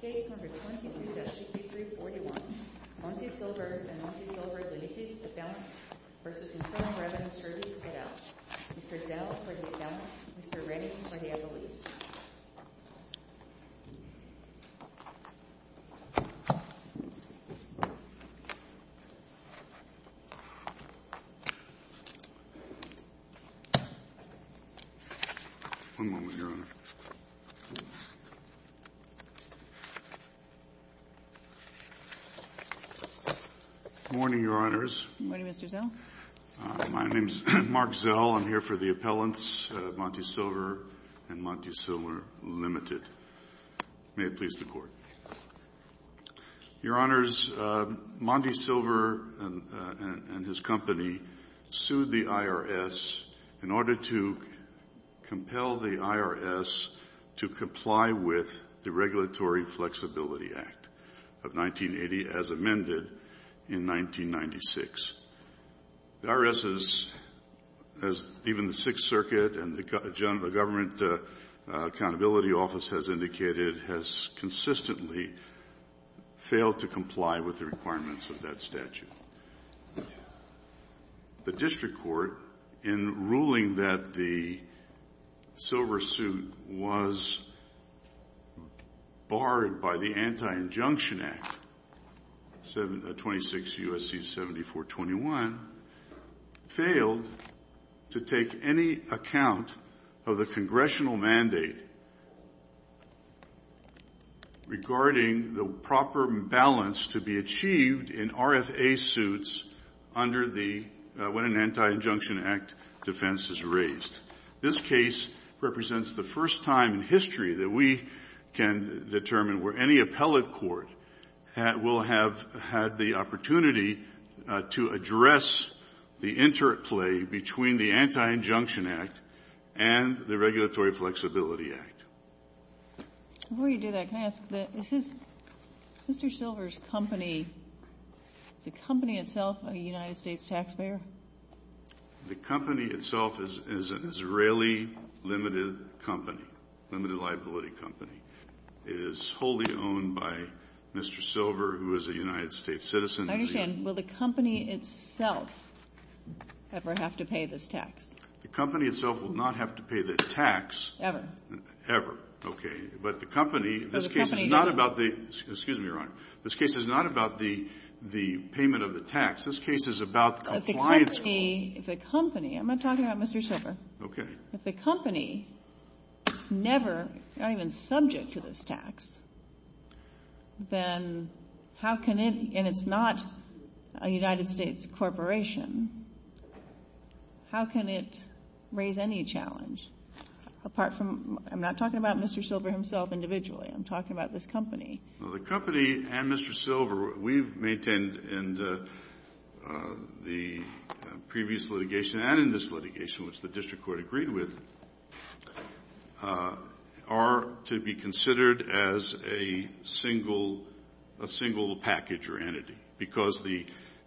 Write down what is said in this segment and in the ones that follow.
Case number 22-5341 Monte Silver v. Internal Revenue Service, Dell, Mr. Redding, for the evidence. Morning, Your Honors. Morning, Mr. Zell. My name is Mark Zell. I'm here for the appellants, Monte Silver and Monte Silver, Ltd. May it please the Court. Your Honors, Monte Silver and his company sued the IRS in order to compel the IRS to comply with the IRS case number 22-5341 Monte Silver v. Internal Revenue Service, Dell, Mr. Redding, for the evidence. The IRS has, as even the Sixth Circuit and the Government Accountability Office has indicated, has consistently failed to comply with the requirements of that statute. The District Court, in ruling that the Silver suit was barred by the Anti-Injunction Act, 26 U.S.C. 7421, failed to take any account of the Congressional mandate regarding the proper balance to be achieved in RFA-C. The District Court, in ruling that the Silver suit was barred by the Anti-Injunction Act, 26 U.S.C. 7421, failed to take any account of the Congressional mandate regarding The company itself is an Israeli limited company, limited liability company. It is wholly owned by Mr. Silver, who is a United States citizen. I understand. Will the company itself ever have to pay this tax? The company itself will not have to pay the tax. Ever? Ever. Okay. But the company, this case is not about the, excuse me, Your Honor, this case is not about the payment of the tax. This case is about compliance. If the company, I'm not talking about Mr. Silver. Okay. If the company is never, not even subject to this tax, then how can it, and it's not a United States corporation, how can it raise any challenge? Apart from, I'm not talking about Mr. Silver himself individually. I'm talking about this company. Well, the company and Mr. Silver, we've maintained in the previous litigation and in this litigation, which the district court agreed with, are to be considered as a single, a single package or entity, because the,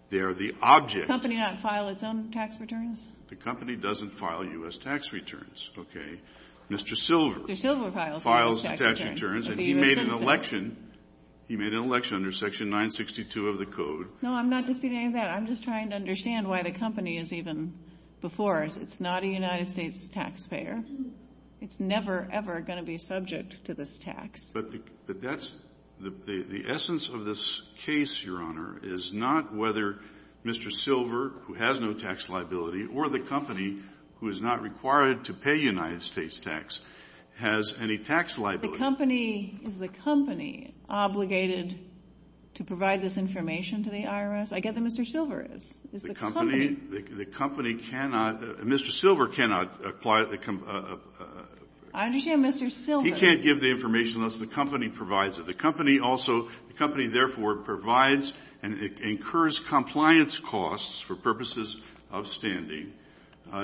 they are the object. Does the company not file its own tax returns? The company doesn't file U.S. tax returns. Okay. Mr. Silver. Mr. Silver files U.S. tax returns. And he made an election, he made an election under section 962 of the code. No, I'm not disputing that. I'm just trying to understand why the company is even before us. It's not a United States taxpayer. It's never, ever going to be subject to this tax. But that's, the essence of this case, Your Honor, is not whether Mr. Silver, who has no tax liability, or the company, who is not required to pay United States tax, has any tax liability. But the company, is the company obligated to provide this information to the IRS? I get that Mr. Silver is. Is the company? The company, the company cannot, Mr. Silver cannot apply the, he can't give the information unless the company provides it. The company also, the company therefore provides and incurs compliance costs for purposes of standing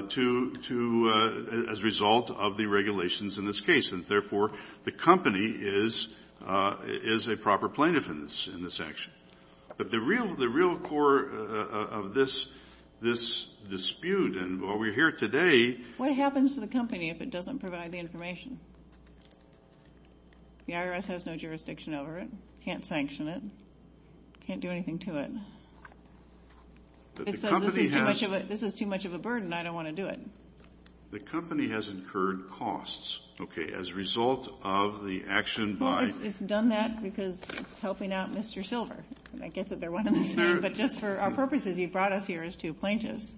to, to, as a result of the regulations in this case. And therefore, the company is, is a proper plaintiff in this, in this action. But the real, the real core of this, this dispute, and while we're here today. What happens to the company if it doesn't provide the information? The IRS has no jurisdiction over it. Can't sanction it. Can't do anything to it. It says this is too much of a, this is too much of a burden. I don't want to do it. The company has incurred costs, okay, as a result of the action by. Well, it's done that because it's helping out Mr. Silver. And I get that they're one and the same. But just for our purposes, you've brought us here as two plaintiffs.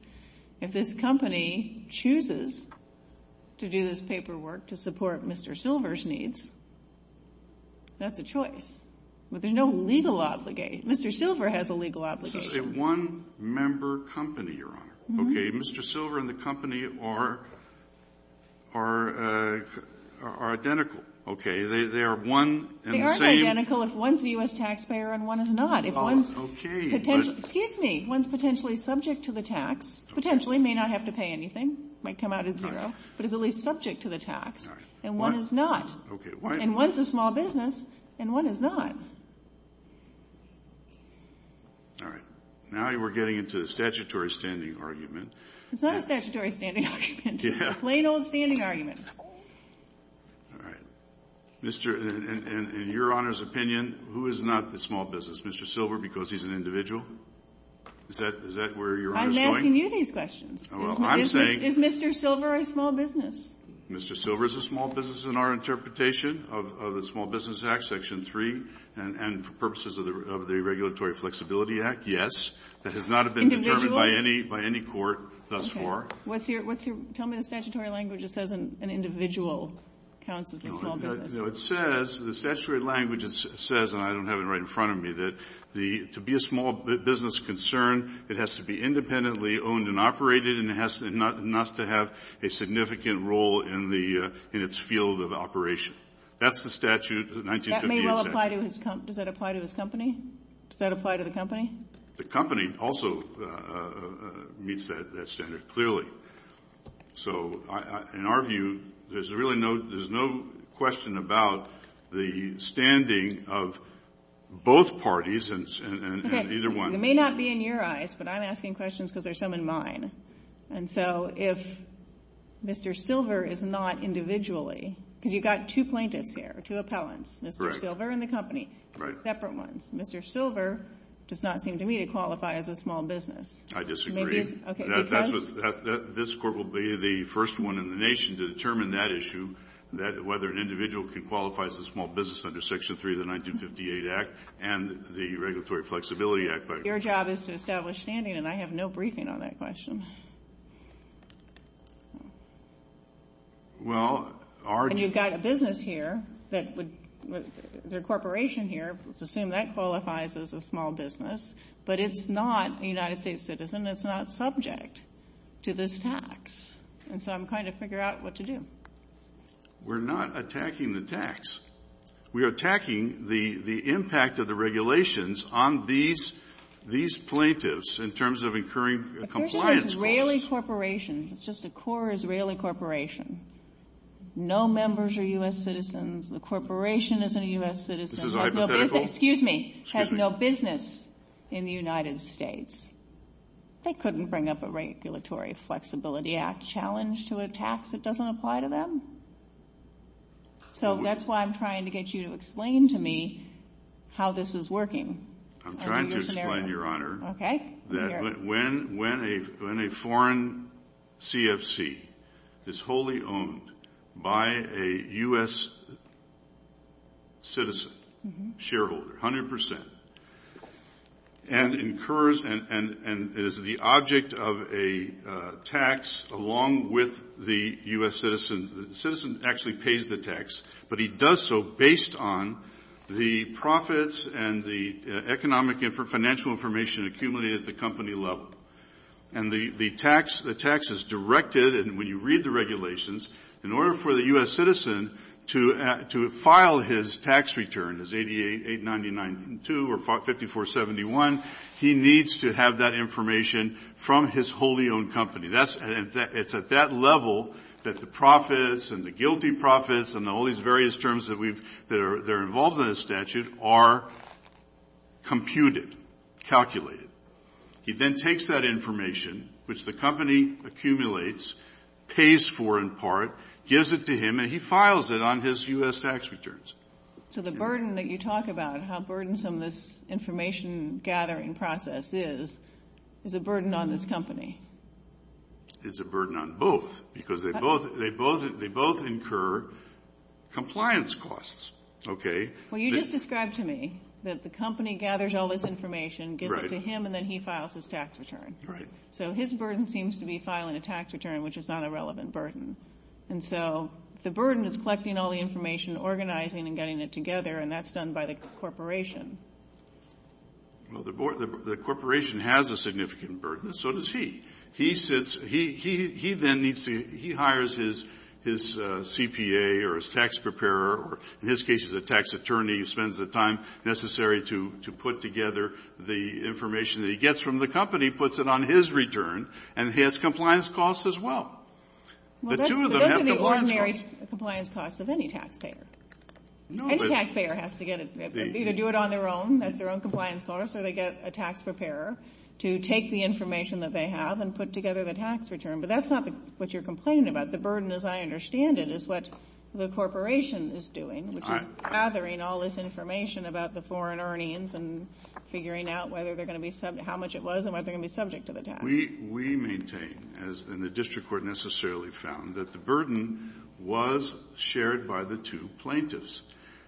If this company chooses to do this paperwork to support Mr. Silver's needs, that's a choice. But there's no legal obligation. Mr. Silver has a legal obligation. This is a one-member company, Your Honor. Okay, Mr. Silver and the company are, are, are identical, okay? They, they are one and the same. They aren't identical if one's a U.S. taxpayer and one is not. If one's. Okay, but. Excuse me. One's potentially subject to the tax. Potentially may not have to pay anything. Might come out at zero. But is at least subject to the tax. All right. And one is not. Okay. And one's a small business and one is not. All right. Now we're getting into the statutory standing argument. It's not a statutory standing argument. Yeah. It's a plain old standing argument. All right. Mr., in, in, in, in Your Honor's opinion, who is not the small business? Mr. Silver because he's an individual? Is that, is that where Your Honor's going? I'm asking you these questions. Well, I'm saying. Is Mr. Silver a small business? Mr. Silver is a small business in our interpretation of, of the Small Business Act, Section 3. And, and for purposes of the, of the Regulatory Flexibility Act, yes. That has not been determined. Individuals? By any, by any court thus far. Okay. What's your, what's your, tell me the statutory language that says an individual counts as a small business. No. No, it says, the statutory language says, and I don't have it right in front of me, that the, to be a small business concern, it has to be independently owned and operated and has, and not, not to have a significant role in the, in its field of operation. That's the statute, 1958 statute. That may well apply to his, does that apply to his company? Does that apply to the company? The company also meets that, that standard clearly. So, I, I, in our view, there's really no, there's no question about the standing of both parties and, and, and either one. It may not be in your eyes, but I'm asking questions because there's some in mine. And so, if Mr. Silver is not individually, because you've got two plaintiffs here, two appellants. Correct. Mr. Silver and the company. Right. Separate ones. Mr. Silver does not seem to me to qualify as a small business. I disagree. Okay. Because? That's what, that, that, this Court will be the first one in the nation to determine that issue, that whether an individual can qualify as a small business under Section 3 of the 1958 Act and the Regulatory Flexibility Act. Your job is to establish standing, and I have no briefing on that question. Well, our. And you've got a business here that would, the corporation here, let's assume that qualifies as a small business. But it's not a United States citizen. It's not subject to this tax. And so, I'm trying to figure out what to do. We're not attacking the tax. We are attacking the, the impact of the regulations on these, these plaintiffs in terms of incurring compliance costs. But there's an Israeli corporation. It's just a core Israeli corporation. No members are U.S. citizens. The corporation isn't a U.S. citizen. This is a hypothetical. Excuse me. Excuse me. Has no business in the United States. They couldn't bring up a Regulatory Flexibility Act challenge to a tax that doesn't apply to them. So, that's why I'm trying to get you to explain to me how this is working. I'm trying to explain, Your Honor. Okay. When a foreign CFC is wholly owned by a U.S. citizen, shareholder, 100 percent, and incurs and is the object of a tax along with the U.S. citizen, the citizen actually pays the tax. But he does so based on the profits and the economic and financial information accumulated at the company level. And the tax is directed, and when you read the regulations, in order for the U.S. citizen to file his tax return, his 899.2 or 5471, he needs to have that information from his wholly owned company. It's at that level that the profits and the guilty profits and all these various terms that are involved in the statute are computed, calculated. He then takes that information, which the company accumulates, pays for in part, gives it to him, and he files it on his U.S. tax returns. So the burden that you talk about, how burdensome this information-gathering process is, is a burden on this company. It's a burden on both because they both incur compliance costs. Okay. Well, you just described to me that the company gathers all this information, gives it to him, and then he files his tax return. Right. So his burden seems to be filing a tax return, which is not a relevant burden. And so the burden is collecting all the information, organizing and getting it together, and that's done by the corporation. Well, the corporation has a significant burden, and so does he. He sits he then needs to he hires his CPA or his tax preparer or, in his case, his tax attorney, who spends the time necessary to put together the information that he gets from the company, puts it on his return, and he has compliance costs as well. Well, those are the ordinary compliance costs of any taxpayer. Any taxpayer has to get it. They either do it on their own, that's their own compliance cost, or they get a tax preparer to take the information that they have and put together the tax return. But that's not what you're complaining about. The burden, as I understand it, is what the corporation is doing, which is gathering all this information about the foreign earnings and figuring out whether they're going to be subject, how much it was and whether they're going to be subject to the tax. We maintain, as the district court necessarily found, that the burden was shared by the two plaintiffs.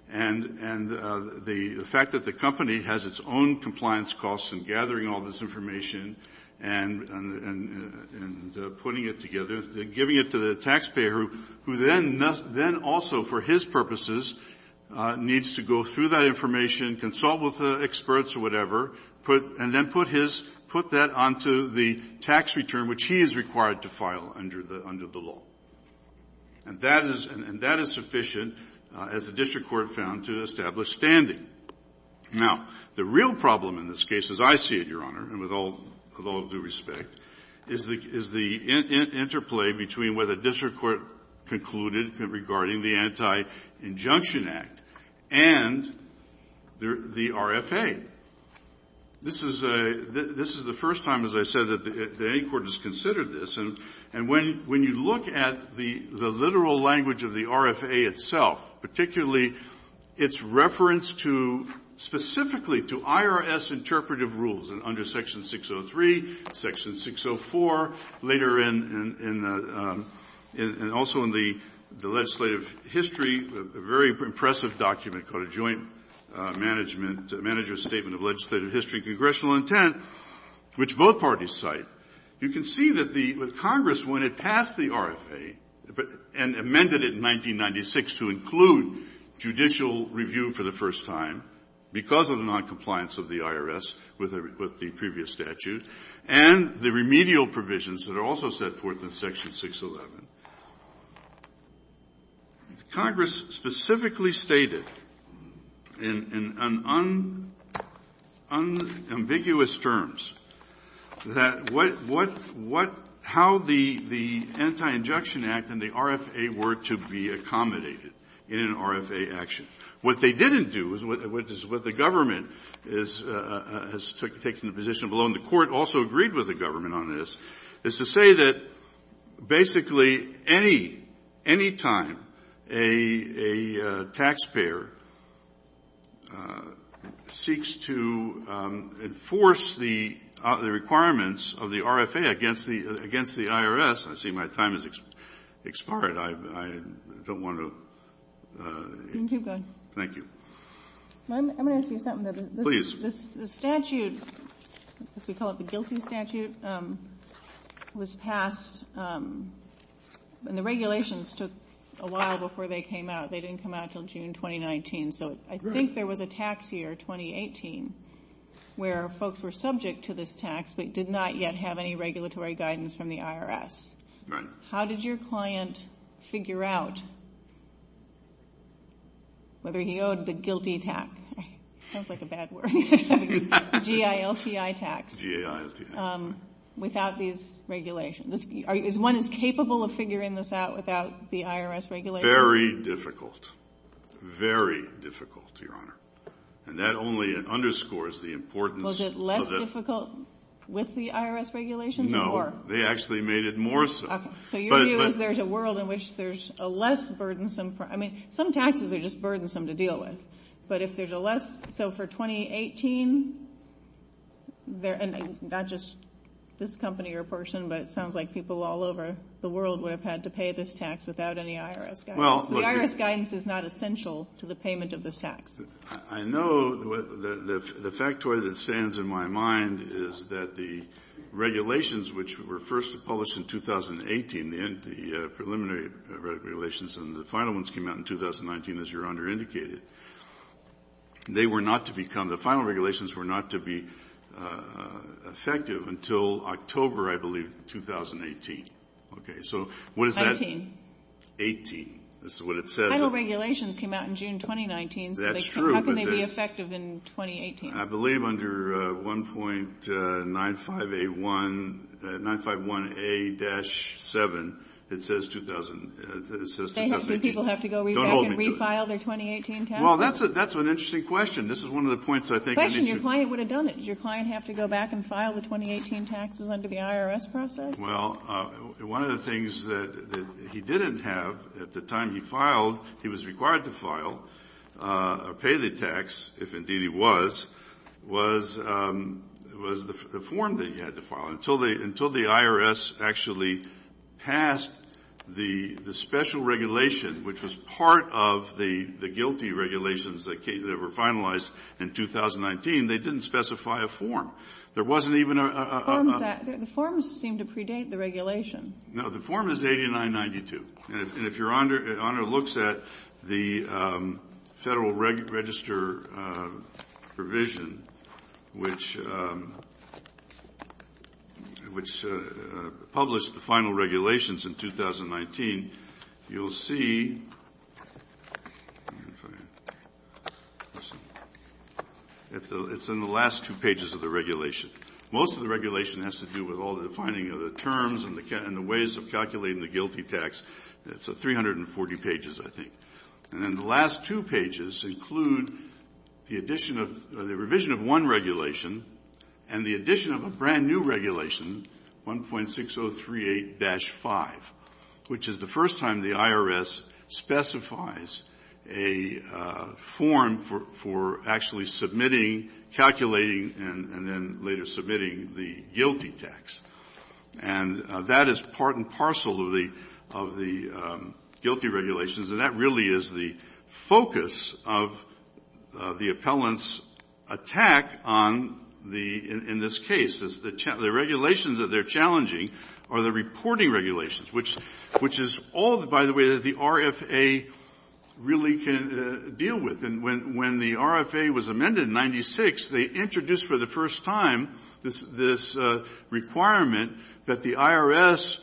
And the fact that the company has its own compliance costs in gathering all this information and putting it together, giving it to the taxpayer, who then also, for his purposes, needs to go through that information, consult with the experts or whatever, and then put his — put that onto the tax return, which he is required to file under the law. And that is sufficient, as the district court found, to establish standing. Now, the real problem in this case, as I see it, Your Honor, and with all due respect, is the interplay between where the district court concluded regarding the Anti-Injunction Act and the RFA. This is a — this is the first time, as I said, that any court has considered this. And when you look at the literal language of the RFA itself, particularly its reference to — specifically to IRS interpretive rules, under Section 603, Section 604, later in the — and also in the legislative history, a very impressive document called a Joint Management — Manager's Statement of Legislative History Congressional Intent, which both parties cite, you can see that the — that Congress, when it passed the RFA and amended it in 1996 to include judicial review for the first time because of the noncompliance of the IRS with the previous statute, and the remedial provisions that are also set forth in Section 611, Congress specifically stated in unambiguous terms that what — what — how the Anti-Injunction Act and the RFA were to be accommodated in an RFA action. What they didn't do, which is what the government is — has taken the position below, and the Court also agreed with the government on this, is to say that basically any — any time a taxpayer seeks to enforce the requirements of the RFA against the — against the IRS — I see my time has expired. I don't want to — You can keep going. Thank you. I'm going to ask you something. Please. The statute, as we call it the GILTI statute, was passed — and the regulations took a while before they came out. They didn't come out until June 2019. Right. So I think there was a tax year, 2018, where folks were subject to this tax but did not yet have any regulatory guidance from the IRS. Right. How did your client figure out whether he owed the GILTI tax? Sounds like a bad word. G-I-L-T-I tax. G-I-L-T-I. Without these regulations. Is one capable of figuring this out without the IRS regulations? Very difficult. Very difficult, Your Honor. And that only underscores the importance — Was it less difficult with the IRS regulations or more? No. They actually made it more so. So your view is there's a world in which there's a less burdensome — I mean, some taxes are just burdensome to deal with. But if there's a less — so for 2018, not just this company or person, but it sounds like people all over the world would have had to pay this tax without any IRS guidance. The IRS guidance is not essential to the payment of this tax. I know the factoid that stands in my mind is that the regulations which were first published in 2018, the preliminary regulations and the final ones came out in 2019, as Your Honor indicated, they were not to become — the final regulations were not to be effective until October, I believe, 2018. Okay. So what is that? 19. 18. This is what it says. The final regulations came out in June 2019. That's true. So how can they be effective in 2018? I believe under 1.951A-7, it says 2018. So people have to go back and refile their 2018 taxes? Well, that's an interesting question. This is one of the points I think — Question. Your client would have done it. Does your client have to go back and file the 2018 taxes under the IRS process? Well, one of the things that he didn't have at the time he filed, he was required to file or pay the tax, if indeed he was, was the form that he had to file. Until the IRS actually passed the special regulation, which was part of the guilty regulations that were finalized in 2019, they didn't specify a form. There wasn't even a — The forms seem to predate the regulation. No. The form is 8992. And if Your Honor looks at the Federal Register provision, which published the final regulations in 2019, you'll see it's in the last two pages of the regulation. Most of the regulation has to do with all the defining of the terms and the ways of calculating the guilty tax. It's 340 pages, I think. And then the last two pages include the addition of — the revision of one regulation and the addition of a brand-new regulation, 1.6038-5, which is the first time the you're submitting the guilty tax. And that is part and parcel of the — of the guilty regulations, and that really is the focus of the appellant's attack on the — in this case, is the — the regulations that they're challenging are the reporting regulations, which is all, by the way, that the RFA really can deal with. And when — when the RFA was amended in 1996, they introduced for the first time this — this requirement that the IRS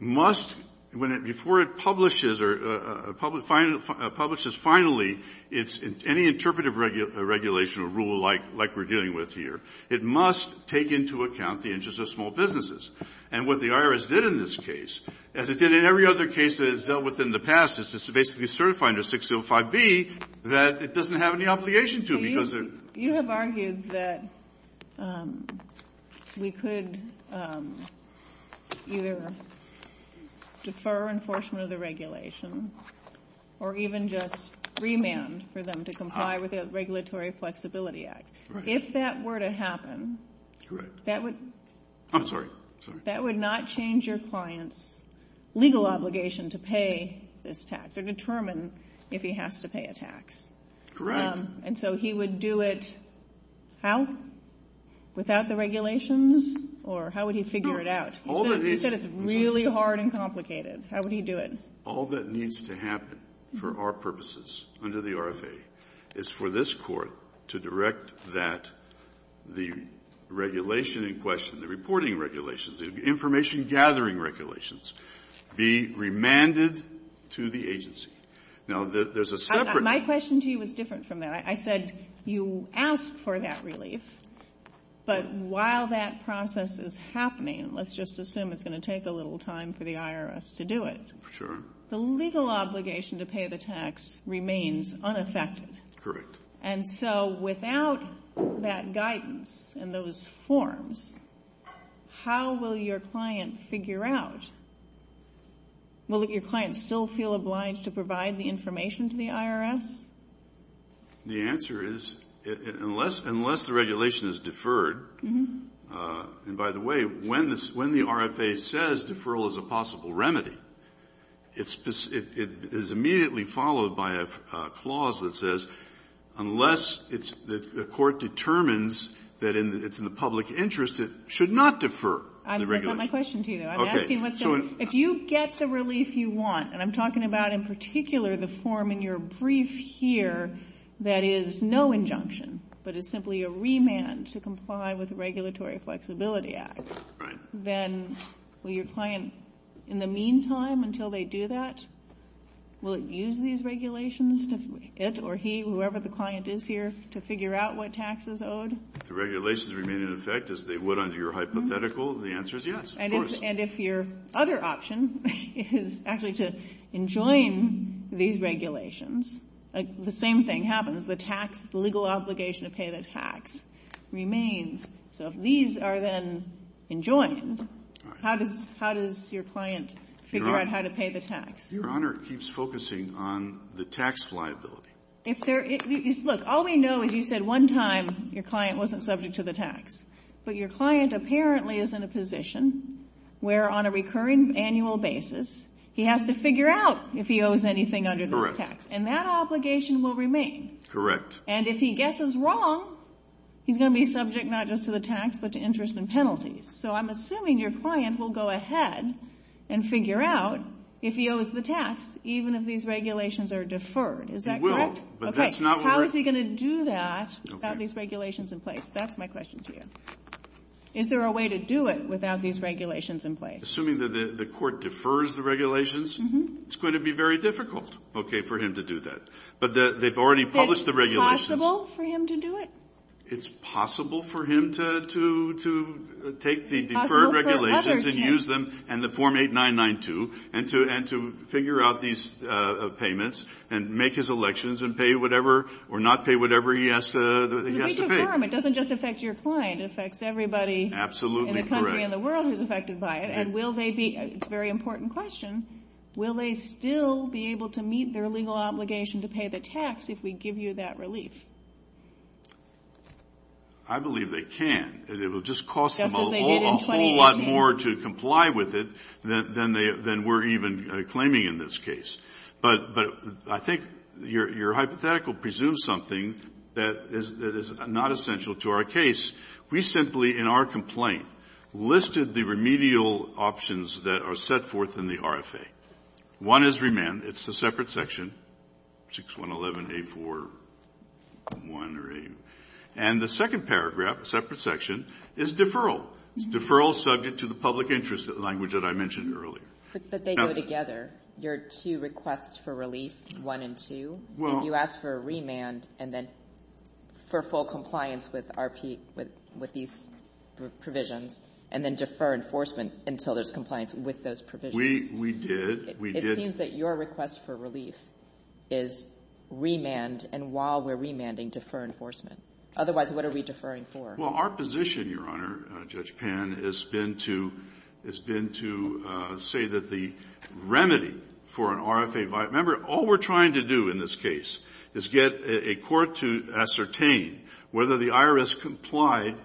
must, when it — before it publishes or publishes finally any interpretive regulation or rule like — like we're dealing with here, it must take into account the interests of small businesses. And what the IRS did in this case, as it did in every other case that it's dealt with in the past, is to basically certify under 605B that it doesn't have any obligation to because it — You have argued that we could either defer enforcement of the regulation or even just remand for them to comply with the Regulatory Flexibility Act. Right. If that were to happen — Correct. That would — I'm sorry. I'm sorry. That would not change your client's legal obligation to pay this tax or determine if he has to pay a tax. Correct. And so he would do it how? Without the regulations? Or how would he figure it out? No. He said it's really hard and complicated. How would he do it? All that needs to happen for our purposes under the RFA is for this Court to direct that the regulation in question, the reporting regulations, the information-gathering regulations, be remanded to the agency. Now, there's a separate — My question to you was different from that. I said you ask for that relief. But while that process is happening, let's just assume it's going to take a little time for the IRS to do it. Sure. The legal obligation to pay the tax remains unaffected. Correct. And so without that guidance and those forms, how will your client figure out? Will your client still feel obliged to provide the information to the IRS? The answer is unless the regulation is deferred. And by the way, when the RFA says deferral is a possible remedy, it is immediately followed by a clause that says unless the court determines that it's in the public interest, it should not defer the regulation. That's not my question to you, though. Okay. I'm asking if you get the relief you want, and I'm talking about in particular the form in your brief here that is no injunction, but is simply a remand to comply with the Regulatory Flexibility Act. Right. Then will your client, in the meantime, until they do that, will it use these regulations, it or he, whoever the client is here, to figure out what tax is owed? If the regulations remain in effect as they would under your hypothetical, the answer is yes, of course. And if your other option is actually to enjoin these regulations, the same thing happens, the tax, the legal obligation to pay the tax remains. So if these are then enjoined, how does your client figure out how to pay the tax? Your Honor, it keeps focusing on the tax liability. Look, all we know is you said one time your client wasn't subject to the tax, but your client apparently is in a position where on a recurring annual basis, he has to figure out if he owes anything under the tax. Correct. And that obligation will remain. Correct. And if he guesses wrong, he's going to be subject not just to the tax, but to interest and penalties. So I'm assuming your client will go ahead and figure out if he owes the tax, even if these regulations are deferred. Is that correct? He will. Okay. How is he going to do that without these regulations in place? That's my question to you. Is there a way to do it without these regulations in place? Assuming that the court defers the regulations, it's going to be very difficult for him to do that. But they've already published the regulations. Is it possible for him to do it? It's possible for him to take the deferred regulations and use them and the form 8992 and to figure out these payments and make his elections and pay whatever or not pay whatever he has to pay. It doesn't just affect your client. It affects everybody in the country and the world who's affected by it. And it's a very important question. Will they still be able to meet their legal obligation to pay the tax if we give you that relief? I believe they can. It will just cost them a whole lot more to comply with it than we're even claiming in this case. But I think your hypothetical presumes something that is not essential to our case. We simply in our complaint listed the remedial options that are set forth in the RFA. One is remand. It's a separate section, 6111A4-1 or 8. And the second paragraph, separate section, is deferral. It's deferral subject to the public interest language that I mentioned earlier. But they go together, your two requests for relief, 1 and 2. If you ask for a remand and then for full compliance with RP, with these provisions and then defer enforcement until there's compliance with those provisions. We did. We did. It seems that your request for relief is remand and while we're remanding, defer enforcement. Otherwise, what are we deferring for? Well, our position, Your Honor, Judge Pan, has been to say that the remedy for an RFA via – remember, all we're trying to do in this case is get a court to ascertain whether the IRS complied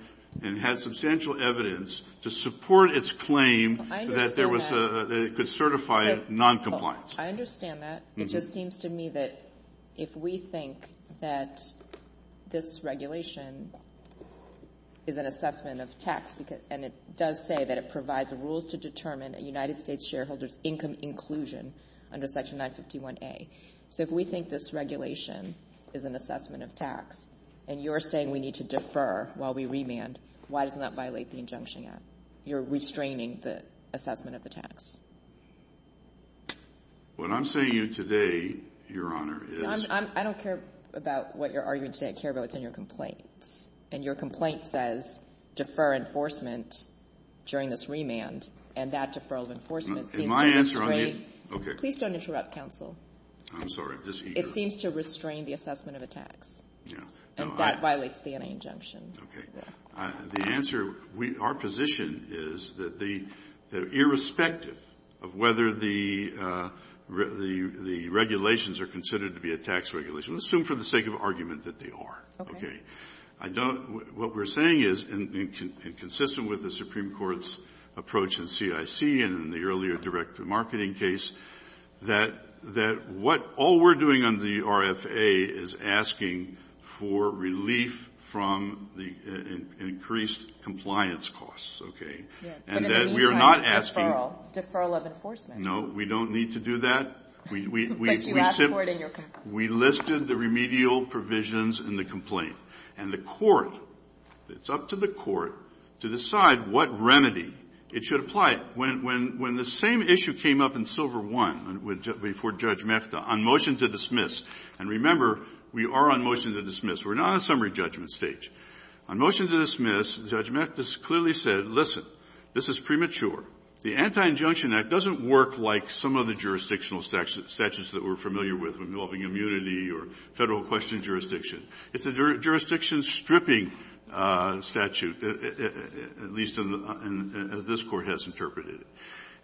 and had substantial evidence to support its claim that there was a – that it could certify noncompliance. I understand that. It just seems to me that if we think that this regulation is an assessment of tax and it does say that it provides rules to determine a United States shareholder's income inclusion under section 951A. So if we think this regulation is an assessment of tax and you're saying we need to defer while we remand, why doesn't that violate the injunction yet? You're restraining the assessment of the tax. What I'm saying to you today, Your Honor, is – I don't care about what you're arguing today. I care about what's in your complaint. And your complaint says defer enforcement during this remand and that deferral of enforcement seems to restrain – Is my answer on you? Okay. Please don't interrupt, counsel. I'm sorry. It seems to restrain the assessment of a tax. Yeah. And that violates the N.A. injunction. Okay. The answer – our position is that the – irrespective of whether the regulations are considered to be a tax regulation, let's assume for the sake of argument that they are. Okay. I don't – what we're saying is, and consistent with the Supreme Court's approach in CIC and in the earlier direct-to-marketing case, that what all we're doing under the RFA is asking for relief from the increased compliance costs. Okay. Yes. And that we are not asking – But in the meantime, deferral. Deferral of enforcement. No. We don't need to do that. But you asked for it in your complaint. We listed the remedial provisions in the complaint. And the Court – it's up to the Court to decide what remedy it should apply. But when the same issue came up in Silver I before Judge Mehta on motion to dismiss – and remember, we are on motion to dismiss. We're not on a summary judgment stage. On motion to dismiss, Judge Mehta clearly said, listen, this is premature. The Anti-Injunction Act doesn't work like some of the jurisdictional statutes that we're familiar with involving immunity or Federal question jurisdiction. It's a jurisdiction-stripping statute, at least as this Court has interpreted it.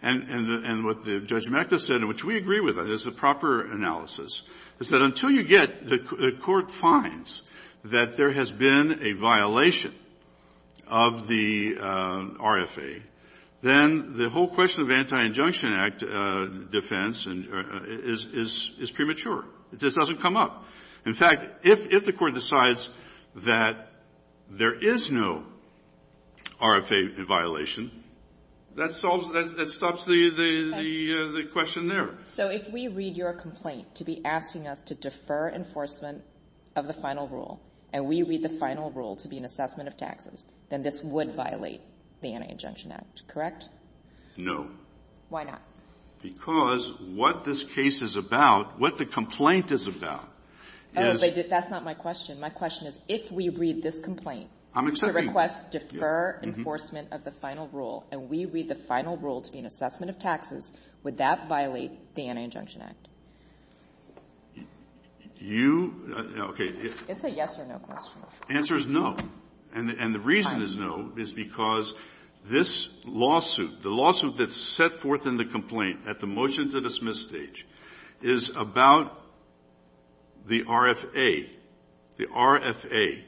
And what Judge Mehta said, and which we agree with, is a proper analysis, is that until you get – the Court finds that there has been a violation of the RFA, then the whole question of Anti-Injunction Act defense is premature. It just doesn't come up. In fact, if the Court decides that there is no RFA violation, that solves – that stops the question there. So if we read your complaint to be asking us to defer enforcement of the final rule, and we read the final rule to be an assessment of taxes, then this would violate the Anti-Injunction Act, correct? No. Why not? Because what this case is about, what the complaint is about, is – Oh, but that's not my question. My question is, if we read this complaint to request defer enforcement of the final rule, and we read the final rule to be an assessment of taxes, would that violate the Anti-Injunction Act? You – okay. It's a yes or no question. The answer is no. And the reason is no is because this lawsuit, the lawsuit that's set forth in the complaint at the motion-to-dismiss stage, is about the RFA. The RFA.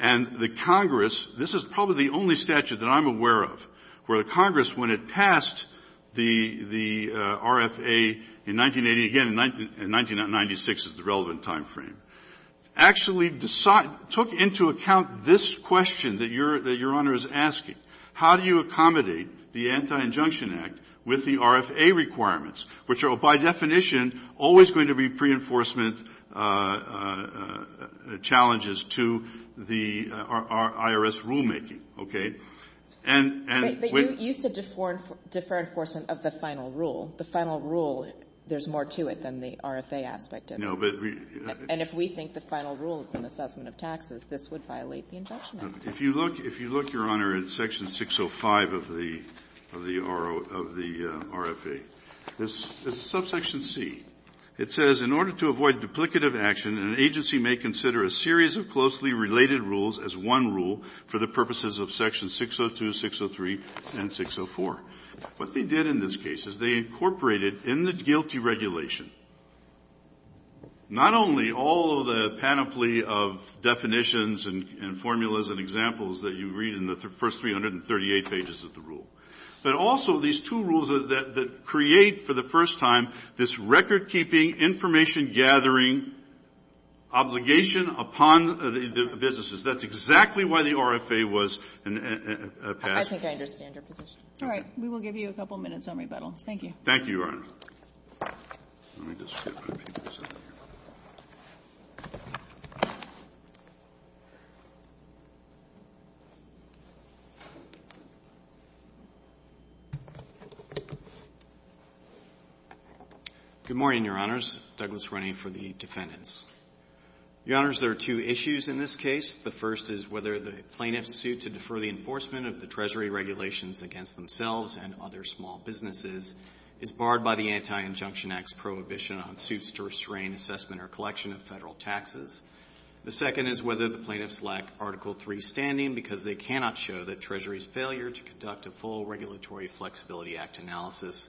And the Congress – this is probably the only statute that I'm aware of where the Congress, when it passed the RFA in 1980 – again, in 1996 is the relevant timeframe – actually took into account this question that Your Honor is asking. How do you accommodate the Anti-Injunction Act with the RFA requirements, which are by definition always going to be pre-enforcement challenges to the IRS rulemaking? Okay? And – and – But you said defer – defer enforcement of the final rule. The final rule, there's more to it than the RFA aspect of it. No, but we – And if we think the final rule is an assessment of taxes, this would violate the Injunction Act, correct? If you look – if you look, Your Honor, at section 605 of the – of the RFA, there's a subsection C. It says, In order to avoid duplicative action, an agency may consider a series of closely related rules as one rule for the purposes of sections 602, 603, and 604. What they did in this case is they incorporated in the GILTI regulation not only all of the panoply of definitions and formulas and examples that you read in the first 338 pages of the rule, but also these two rules that create for the first time this record-keeping, information-gathering obligation upon the businesses. That's exactly why the RFA was passed. I think I understand your position. All right. We will give you a couple minutes on rebuttal. Thank you. Thank you, Your Honor. Let me just get my papers out of here. Good morning, Your Honors. Douglas Runney for the defendants. Your Honors, there are two issues in this case. The first is whether the plaintiffs' suit to defer the enforcement of the Treasury regulations against themselves and other small businesses is barred by the Anti-Injunction Act's prohibition on suits to restrain assessment or collection of Federal taxes. The second is whether the plaintiffs lack Article III standing because they cannot show that Treasury's failure to conduct a full Regulatory Flexibility Act analysis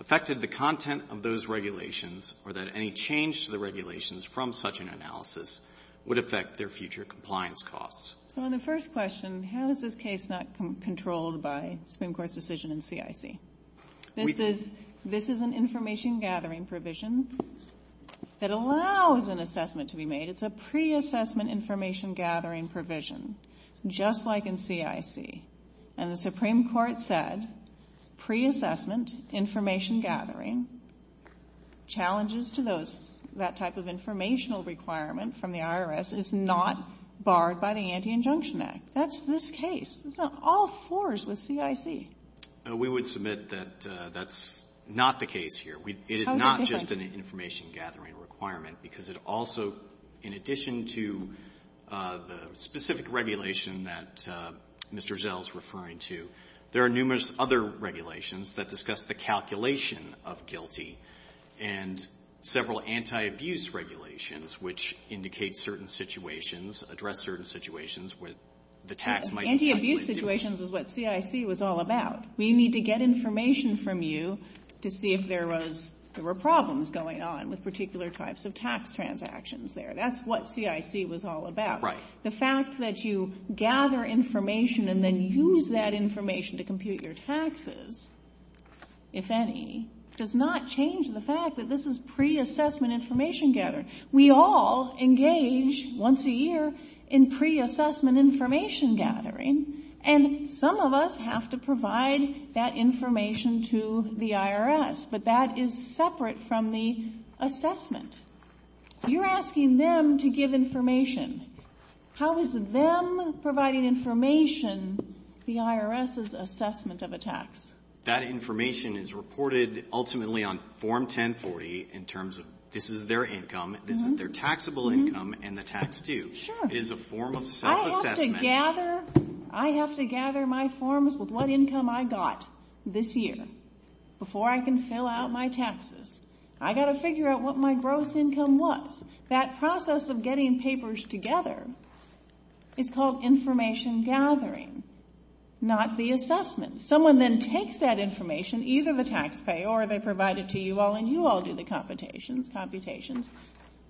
affected the content of those regulations or that any change to the regulations from such an analysis would affect their future compliance costs. So on the first question, how is this case not controlled by the Supreme Court's decision in CIC? This is an information-gathering provision that allows an assessment to be made. It's a pre-assessment information-gathering provision, just like in CIC. And the Supreme Court said pre-assessment information-gathering, challenges to that type of informational requirement from the IRS, is not barred by the Anti-Injunction Act. That's this case. It's not all fours with CIC. We would submit that that's not the case here. It is not just an information-gathering requirement because it also, in addition to the specific regulation that Mr. Zell is referring to, there are numerous other regulations that discuss the calculation of guilty and several anti-abuse regulations which indicate certain situations, address certain situations where the tax might be calculated differently. Anti-abuse situations is what CIC was all about. We need to get information from you to see if there was – there were problems going on with particular types of tax transactions there. That's what CIC was all about. Right. The fact that you gather information and then use that information to compute your taxes, if any, does not change the fact that this is pre-assessment information-gathering. We all engage once a year in pre-assessment information-gathering, and some of us have to provide that information to the IRS, but that is separate from the assessment. You're asking them to give information. How is them providing information the IRS's assessment of a tax? That information is reported ultimately on Form 1040 in terms of this is their income, this is their taxable income, and the tax due. Sure. It is a form of self-assessment. I have to gather my forms with what income I got this year before I can fill out my taxes. I've got to figure out what my gross income was. That process of getting papers together is called information-gathering, not the assessment. Someone then takes that information, either the taxpayer or they provide it to you all, and you all do the computations.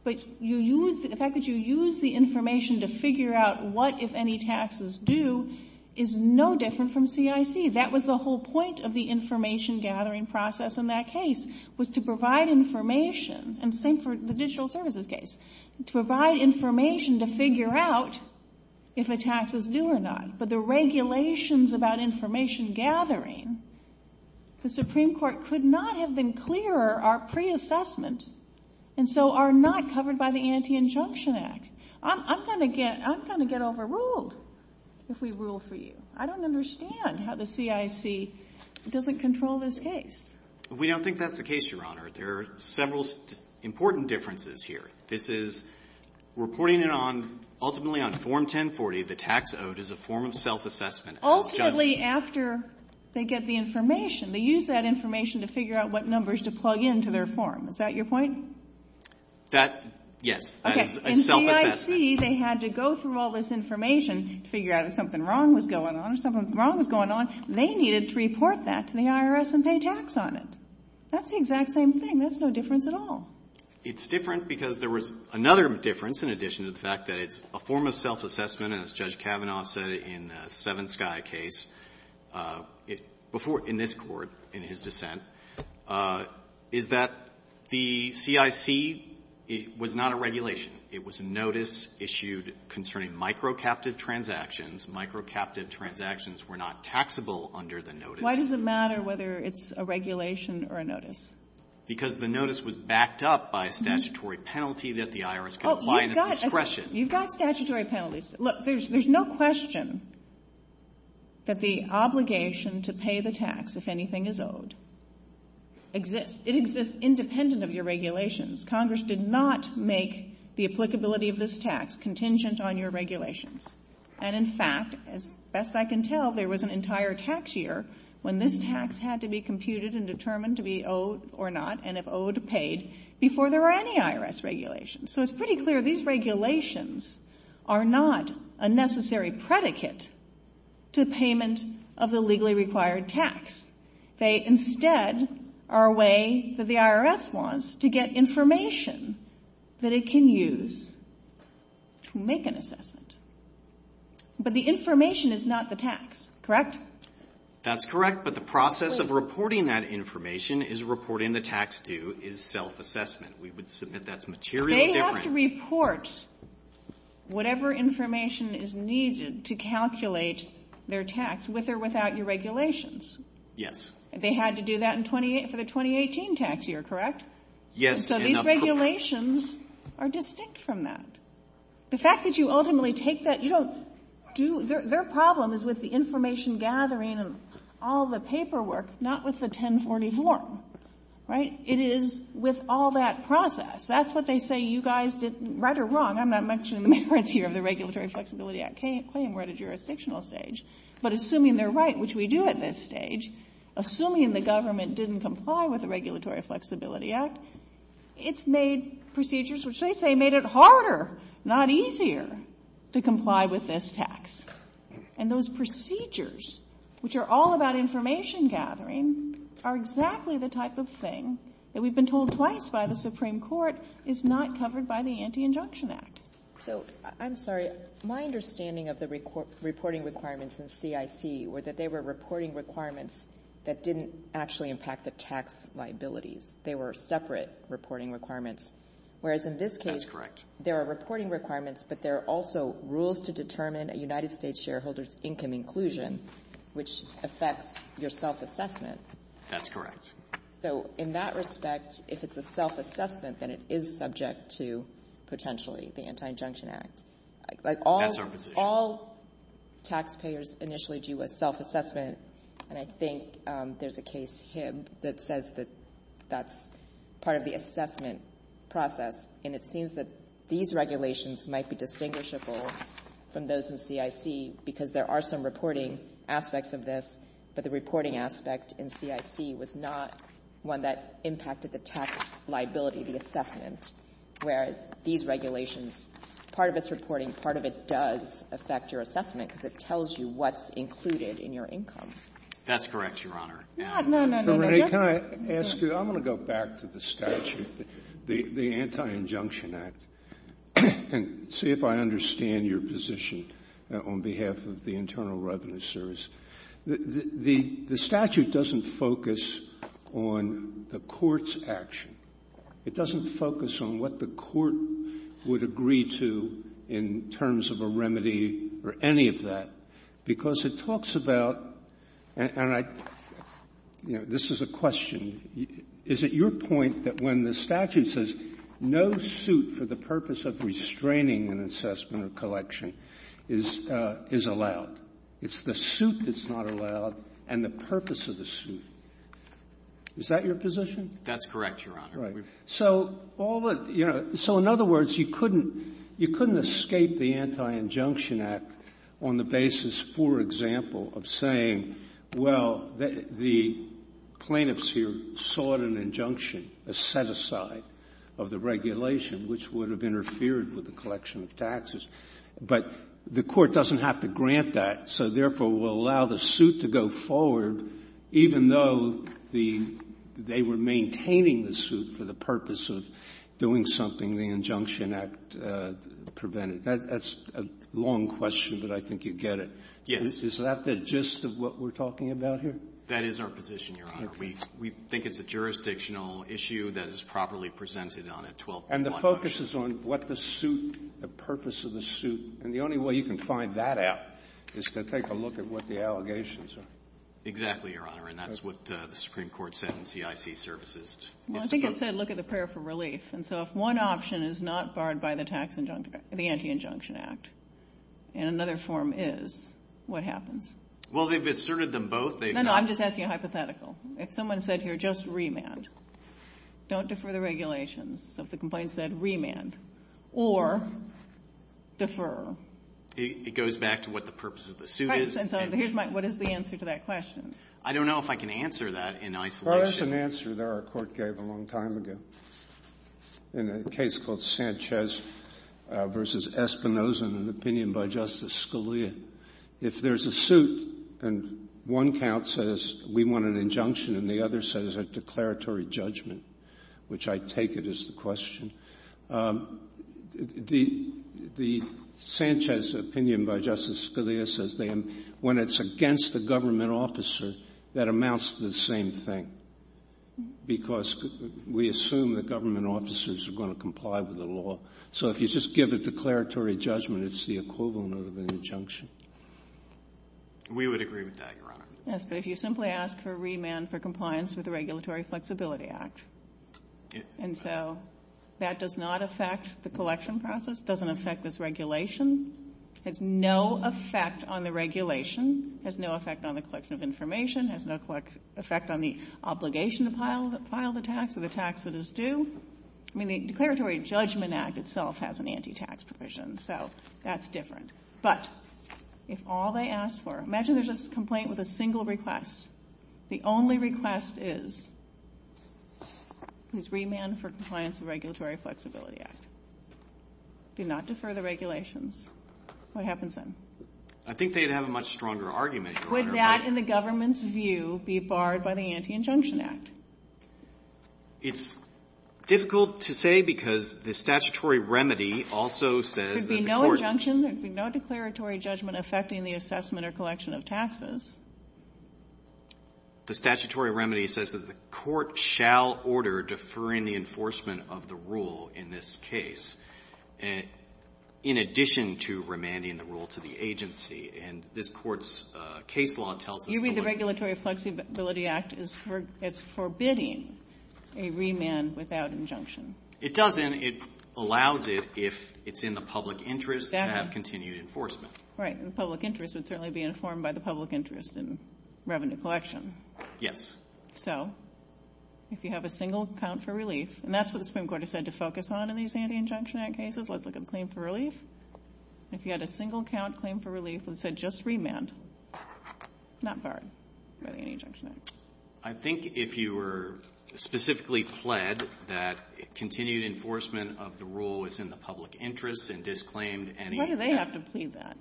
But the fact that you use the information to figure out what, if any, taxes do, is no different from CIC. That was the whole point of the information-gathering process in that case, was to provide information. And same for the digital services case. To provide information to figure out if a tax is due or not. But the regulations about information-gathering, the Supreme Court could not have been clearer our pre-assessment and so are not covered by the Anti-Injunction Act. I'm going to get overruled if we rule for you. I don't understand how the CIC doesn't control this case. We don't think that's the case, Your Honor. There are several important differences here. This is reporting it on, ultimately on Form 1040, the tax owed as a form of self-assessment. Ultimately, after they get the information, they use that information to figure out what numbers to plug into their form. Is that your point? That, yes, that is a self-assessment. In CIC, they had to go through all this information to figure out if something wrong was going on or something wrong was going on. They needed to report that to the IRS and pay tax on it. That's the exact same thing. That's no difference at all. It's different because there was another difference in addition to the fact that it's a form of self-assessment, and as Judge Kavanaugh said in the Seven-Sky case, before in this Court, in his dissent, is that the CIC, it was not a regulation. It was a notice issued concerning microcaptive transactions. Microcaptive transactions were not taxable under the notice. Why does it matter whether it's a regulation or a notice? Because the notice was backed up by a statutory penalty that the IRS can apply as discretion. You've got statutory penalties. Look, there's no question that the obligation to pay the tax if anything is owed exists. It exists independent of your regulations. Congress did not make the applicability of this tax contingent on your regulations. And, in fact, as best I can tell, there was an entire tax year when this tax had to be computed and determined to be owed or not, and if owed, paid, before there were any IRS regulations. So it's pretty clear these regulations are not a necessary predicate to payment of the legally required tax. They, instead, are a way that the IRS wants to get information that it can use to make an assessment. But the information is not the tax, correct? That's correct, but the process of reporting that information is reporting the tax due is self-assessment. We would submit that's materially different. You have to report whatever information is needed to calculate their tax, with or without your regulations. Yes. They had to do that for the 2018 tax year, correct? Yes. So these regulations are distinct from that. The fact that you ultimately take that, you don't do their problem is with the information gathering and all the paperwork, not with the 1040 form, right? It is with all that process. That's what they say you guys did right or wrong. I'm not mentioning the merits here of the Regulatory Flexibility Act claim. We're at a jurisdictional stage. But assuming they're right, which we do at this stage, assuming the government didn't comply with the Regulatory Flexibility Act, it's made procedures, which they say made it harder, not easier, to comply with this tax. And those procedures, which are all about information gathering, are exactly the type of thing that we've been told twice by the Supreme Court is not covered by the Anti-Injunction Act. So, I'm sorry, my understanding of the reporting requirements in CIC were that they were reporting requirements that didn't actually impact the tax liabilities. They were separate reporting requirements. That's correct. Whereas in this case, there are reporting requirements, but there are also rules to determine a United States shareholder's income inclusion, which affects your self-assessment. That's correct. So in that respect, if it's a self-assessment, then it is subject to potentially the Anti-Injunction Act. That's our position. All taxpayers initially do a self-assessment, and I think there's a case, Hibb, that says that that's part of the assessment process. And it seems that these regulations might be distinguishable from those in CIC because there are some reporting aspects of this, but the reporting aspect in CIC was not one that impacted the tax liability, the assessment, whereas these regulations, part of it's reporting, part of it does affect your assessment because it tells you what's included in your income. That's correct, Your Honor. No, no, no, no. So, Renee, can I ask you, I'm going to go back to the statute, the Anti-Injunction Act, and see if I understand your position on behalf of the Internal Revenue Service. The statute doesn't focus on the court's action. It doesn't focus on what the court would agree to in terms of a remedy or any of that because it talks about, and I, you know, this is a question. Is it your point that when the statute says no suit for the purpose of restraining an assessment or collection is allowed, it's the suit that's not allowed and the purpose of the suit? Is that your position? That's correct, Your Honor. Right. So all the, you know, so in other words, you couldn't escape the Anti-Injunction Act on the basis, for example, of saying, well, the plaintiffs here sought an injunction, a set-aside of the regulation, which would have interfered with the collection of taxes. But the court doesn't have to grant that, so, therefore, will allow the suit to go forward even though the — they were maintaining the suit for the purpose of doing something the Injunction Act prevented. That's a long question, but I think you get it. Yes. Is that the gist of what we're talking about here? That is our position, Your Honor. We think it's a jurisdictional issue that is properly presented on a 12.1 motion. And the focus is on what the suit, the purpose of the suit, and the only way you can find that out is to take a look at what the allegations are. Exactly, Your Honor, and that's what the Supreme Court said in CIC Services. Well, I think it said look at the prayer for relief. And so if one option is not barred by the tax injunction — the Anti-Injunction Act, and another form is, what happens? Well, they've asserted them both. No, no. I'm just asking a hypothetical. If someone said here just remand, don't defer the regulations. So if the complaint said remand or defer. It goes back to what the purpose of the suit is. And so here's my — what is the answer to that question? I don't know if I can answer that in isolation. Well, there's an answer there our Court gave a long time ago in a case called Sanchez v. Espinoza, an opinion by Justice Scalia. If there's a suit and one count says we want an injunction and the other says a declaratory judgment, which I take it is the question, the Sanchez opinion by Justice Scalia says they am — when it's against a government officer, that amounts to the same thing. Because we assume that government officers are going to comply with the law. So if you just give a declaratory judgment, it's the equivalent of an injunction. We would agree with that, Your Honor. Yes, but if you simply ask for remand for compliance with the Regulatory Flexibility Act. And so that does not affect the collection process, doesn't affect this regulation, has no effect on the regulation, has no effect on the collection of information, has no effect on the obligation to file the tax or the tax that is due. I mean, the Declaratory Judgment Act itself has an anti-tax provision, so that's different. But if all they ask for — imagine there's a complaint with a single request. The only request is, is remand for compliance with the Regulatory Flexibility Act. Do not defer the regulations. I think they'd have a much stronger argument, Your Honor. Would that, in the government's view, be barred by the Anti-Injunction Act? It's difficult to say because the statutory remedy also says that the court — There'd be no injunction, there'd be no declaratory judgment affecting the assessment or collection of taxes. The statutory remedy says that the court shall order deferring the enforcement of the rule in this case, in addition to remanding the rule to the agency. And this Court's case law tells us to — You read the Regulatory Flexibility Act as forbidding a remand without injunction. It doesn't. It allows it, if it's in the public interest, to have continued enforcement. Right. And the public interest would certainly be informed by the public interest in revenue collection. Yes. So if you have a single count for relief — and that's what the Supreme Court has said to focus on in these Anti-Injunction Act cases. Let's look at the claim for relief. If you had a single count claim for relief that said just remand, not barred by the Anti-Injunction Act. I think if you were specifically pled that continued enforcement of the rule is in the public interest and disclaimed any — Why do they have to plead that?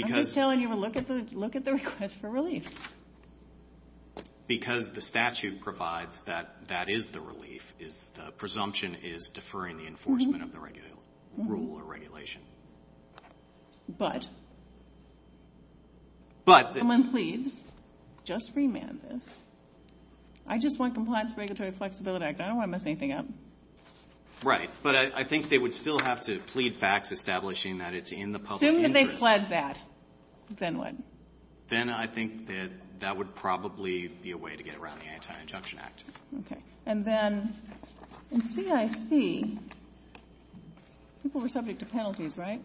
I'm just telling you to look at the — look at the request for relief. Because the statute provides that that is the relief, the presumption is deferring enforcement of the rule or regulation. But? But — Someone pleads just remand this. I just want Compliance Regulatory Flexibility Act. I don't want to mess anything up. Right. But I think they would still have to plead facts establishing that it's in the public interest. Assume that they pled that. Then what? Then I think that that would probably be a way to get around the Anti-Injunction Act. Okay. And then in CIC, people were subject to penalties, right?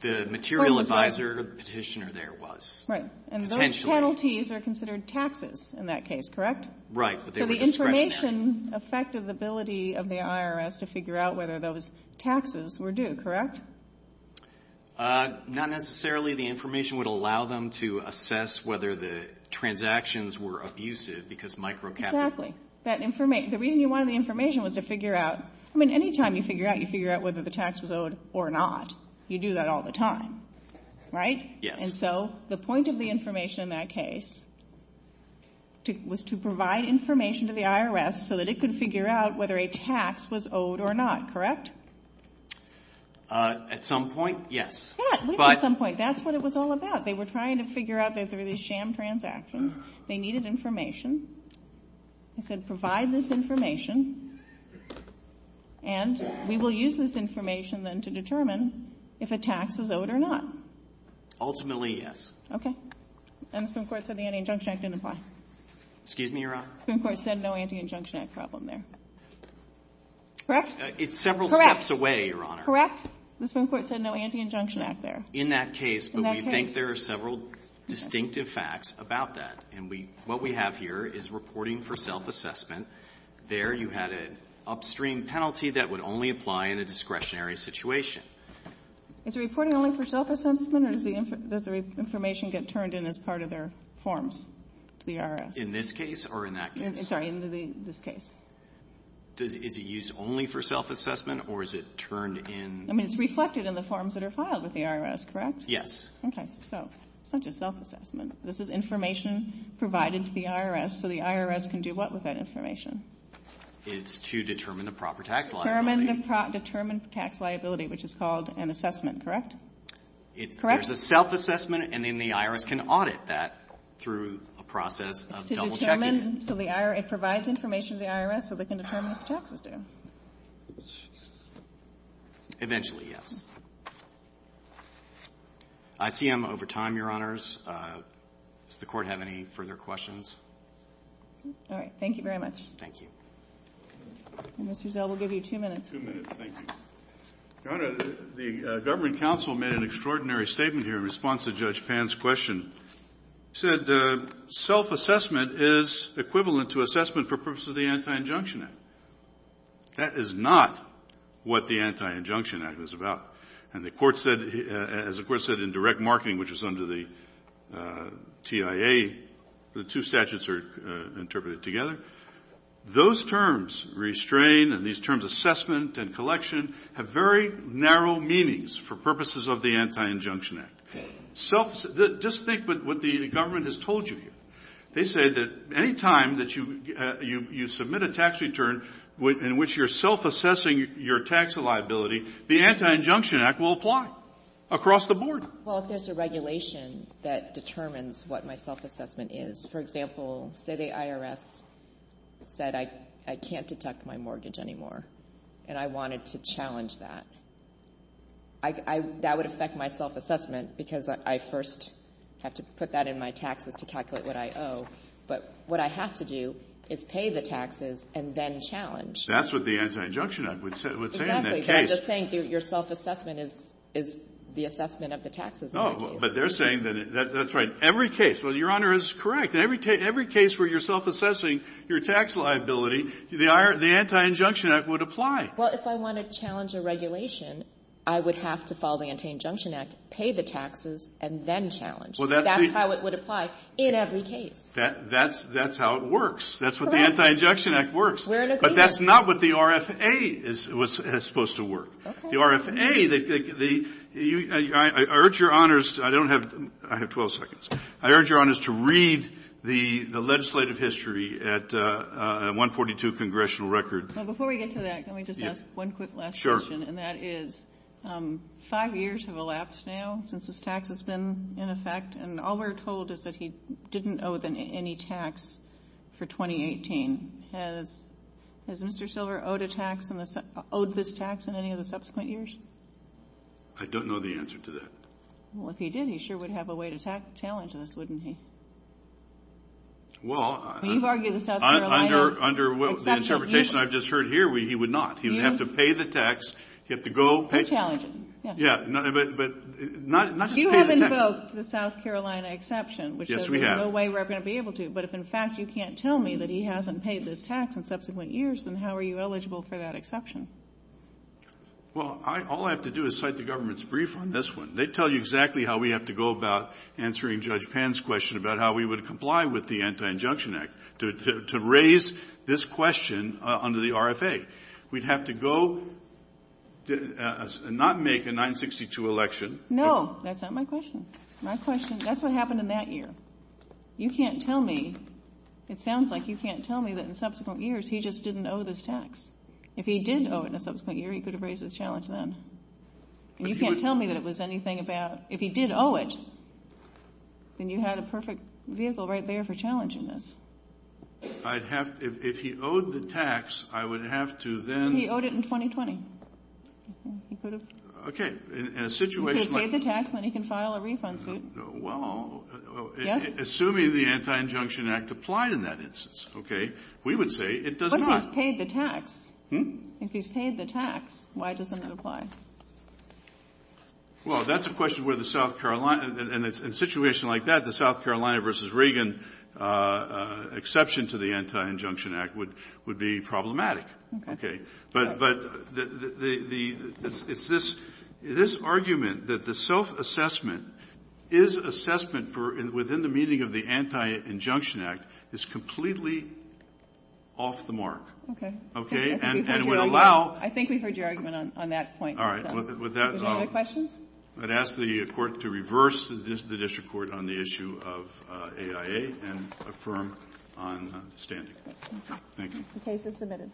The material advisor petitioner there was. Right. And those penalties are considered taxes in that case, correct? Right. So the information affected the ability of the IRS to figure out whether those taxes were due, correct? Not necessarily. The information would allow them to assess whether the transactions were abusive because microcapital — Exactly. That information — the reason you wanted the information was to figure out — I mean, any time you figure out, you figure out whether the tax was owed or not. You do that all the time, right? Yes. And so the point of the information in that case was to provide information to the IRS so that it could figure out whether a tax was owed or not, correct? At some point, yes. Yeah, at some point. That's what it was all about. They were trying to figure out that there were these sham transactions. They needed information. They said, provide this information. And we will use this information then to determine if a tax is owed or not. Ultimately, yes. Okay. And the Supreme Court said the Anti-Injunction Act didn't apply. Excuse me, Your Honor? The Supreme Court said no Anti-Injunction Act problem there. Correct? It's several steps away, Your Honor. Correct? The Supreme Court said no Anti-Injunction Act there. In that case, but we think there are several distinctive facts about that. What we have here is reporting for self-assessment. There you had an upstream penalty that would only apply in a discretionary situation. Is it reporting only for self-assessment or does the information get turned in as part of their forms to the IRS? In this case or in that case? Sorry, in this case. Is it used only for self-assessment or is it turned in? I mean, it's reflected in the forms that are filed with the IRS, correct? Yes. Okay. So it's not just self-assessment. This is information provided to the IRS. So the IRS can do what with that information? It's to determine the proper tax liability. Determine tax liability, which is called an assessment, correct? It's a self-assessment and then the IRS can audit that through a process of double checking. So it provides information to the IRS so they can determine what the taxes do. Eventually, yes. I see I'm over time, Your Honors. Does the Court have any further questions? All right. Thank you very much. Thank you. Mr. Zell, we'll give you two minutes. Two minutes. Thank you. Your Honor, the government counsel made an extraordinary statement here in response to Judge Pan's question. He said self-assessment is equivalent to assessment for purposes of the Anti-Injunction Act. That is not what the Anti-Injunction Act is about. And the Court said, as the Court said in direct marketing, which is under the TIA, the two statutes are interpreted together. Those terms, restrain and these terms assessment and collection, have very narrow meanings for purposes of the Anti-Injunction Act. Just think what the government has told you here. They say that any time that you submit a tax return in which you're self-assessing your tax liability, the Anti-Injunction Act will apply across the board. Well, if there's a regulation that determines what my self-assessment is, for example, say the IRS said I can't deduct my mortgage anymore and I wanted to challenge that. That would affect my self-assessment because I first have to put that in my taxes to calculate what I owe. But what I have to do is pay the taxes and then challenge. That's what the Anti-Injunction Act would say in that case. Exactly. They're saying your self-assessment is the assessment of the taxes. Oh. But they're saying that's right. Every case. Well, Your Honor is correct. In every case where you're self-assessing your tax liability, the Anti-Injunction Act would apply. Well, if I want to challenge a regulation, I would have to follow the Anti-Injunction Act, pay the taxes, and then challenge. Well, that's the ---- That's how it would apply in every case. That's how it works. That's what the Anti-Injunction Act works. We're in agreement. But that's not what the RFA was supposed to work. The RFA, I urge Your Honor's, I don't have, I have 12 seconds. I urge Your Honor's to read the legislative history at 142 Congressional Record. Before we get to that, let me just ask one quick last question. Sure. And that is five years have elapsed now since this tax has been in effect and all we're told is that he didn't owe any tax for 2018. Has Mr. Silver owed a tax, owed this tax in any of the subsequent years? I don't know the answer to that. Well, if he did, he sure would have a way to challenge this, wouldn't he? Well, I ---- Well, you've argued the South Carolina exception. Under the interpretation I've just heard here, he would not. He would have to pay the tax. He'd have to go ---- To challenge it, yes. Yes, but not just pay the tax. The South Carolina exception, which says there's no way we're going to be able to, but if in fact you can't tell me that he hasn't paid this tax in subsequent years, then how are you eligible for that exception? Well, all I have to do is cite the government's brief on this one. They tell you exactly how we have to go about answering Judge Pan's question about how we would comply with the Anti-Injunction Act to raise this question under the RFA. We'd have to go and not make a 962 election. No, that's not my question. That's what happened in that year. You can't tell me, it sounds like you can't tell me that in subsequent years, he just didn't owe this tax. If he did owe it in a subsequent year, he could have raised this challenge then. And you can't tell me that it was anything about, if he did owe it, then you had a perfect vehicle right there for challenging this. I'd have to, if he owed the tax, I would have to then ---- He owed it in 2020. He could have. Okay, in a situation like ---- If he paid the tax, then he can file a refund suit. Well, assuming the Anti-Injunction Act applied in that instance, okay, we would say it does not. But if he's paid the tax, if he's paid the tax, why doesn't it apply? Well, that's a question where the South Carolina, and in a situation like that, the South Carolina v. Reagan exception to the Anti-Injunction Act would be problematic. Okay. But the ---- it's this argument that the self-assessment is assessment for within the meaning of the Anti-Injunction Act is completely off the mark. Okay. Okay. And would allow ---- I think we've heard your argument on that point. All right. Would that ---- Any other questions? I'd ask the Court to reverse the district court on the issue of AIA and affirm on standing. Thank you. The case is submitted. Thank you.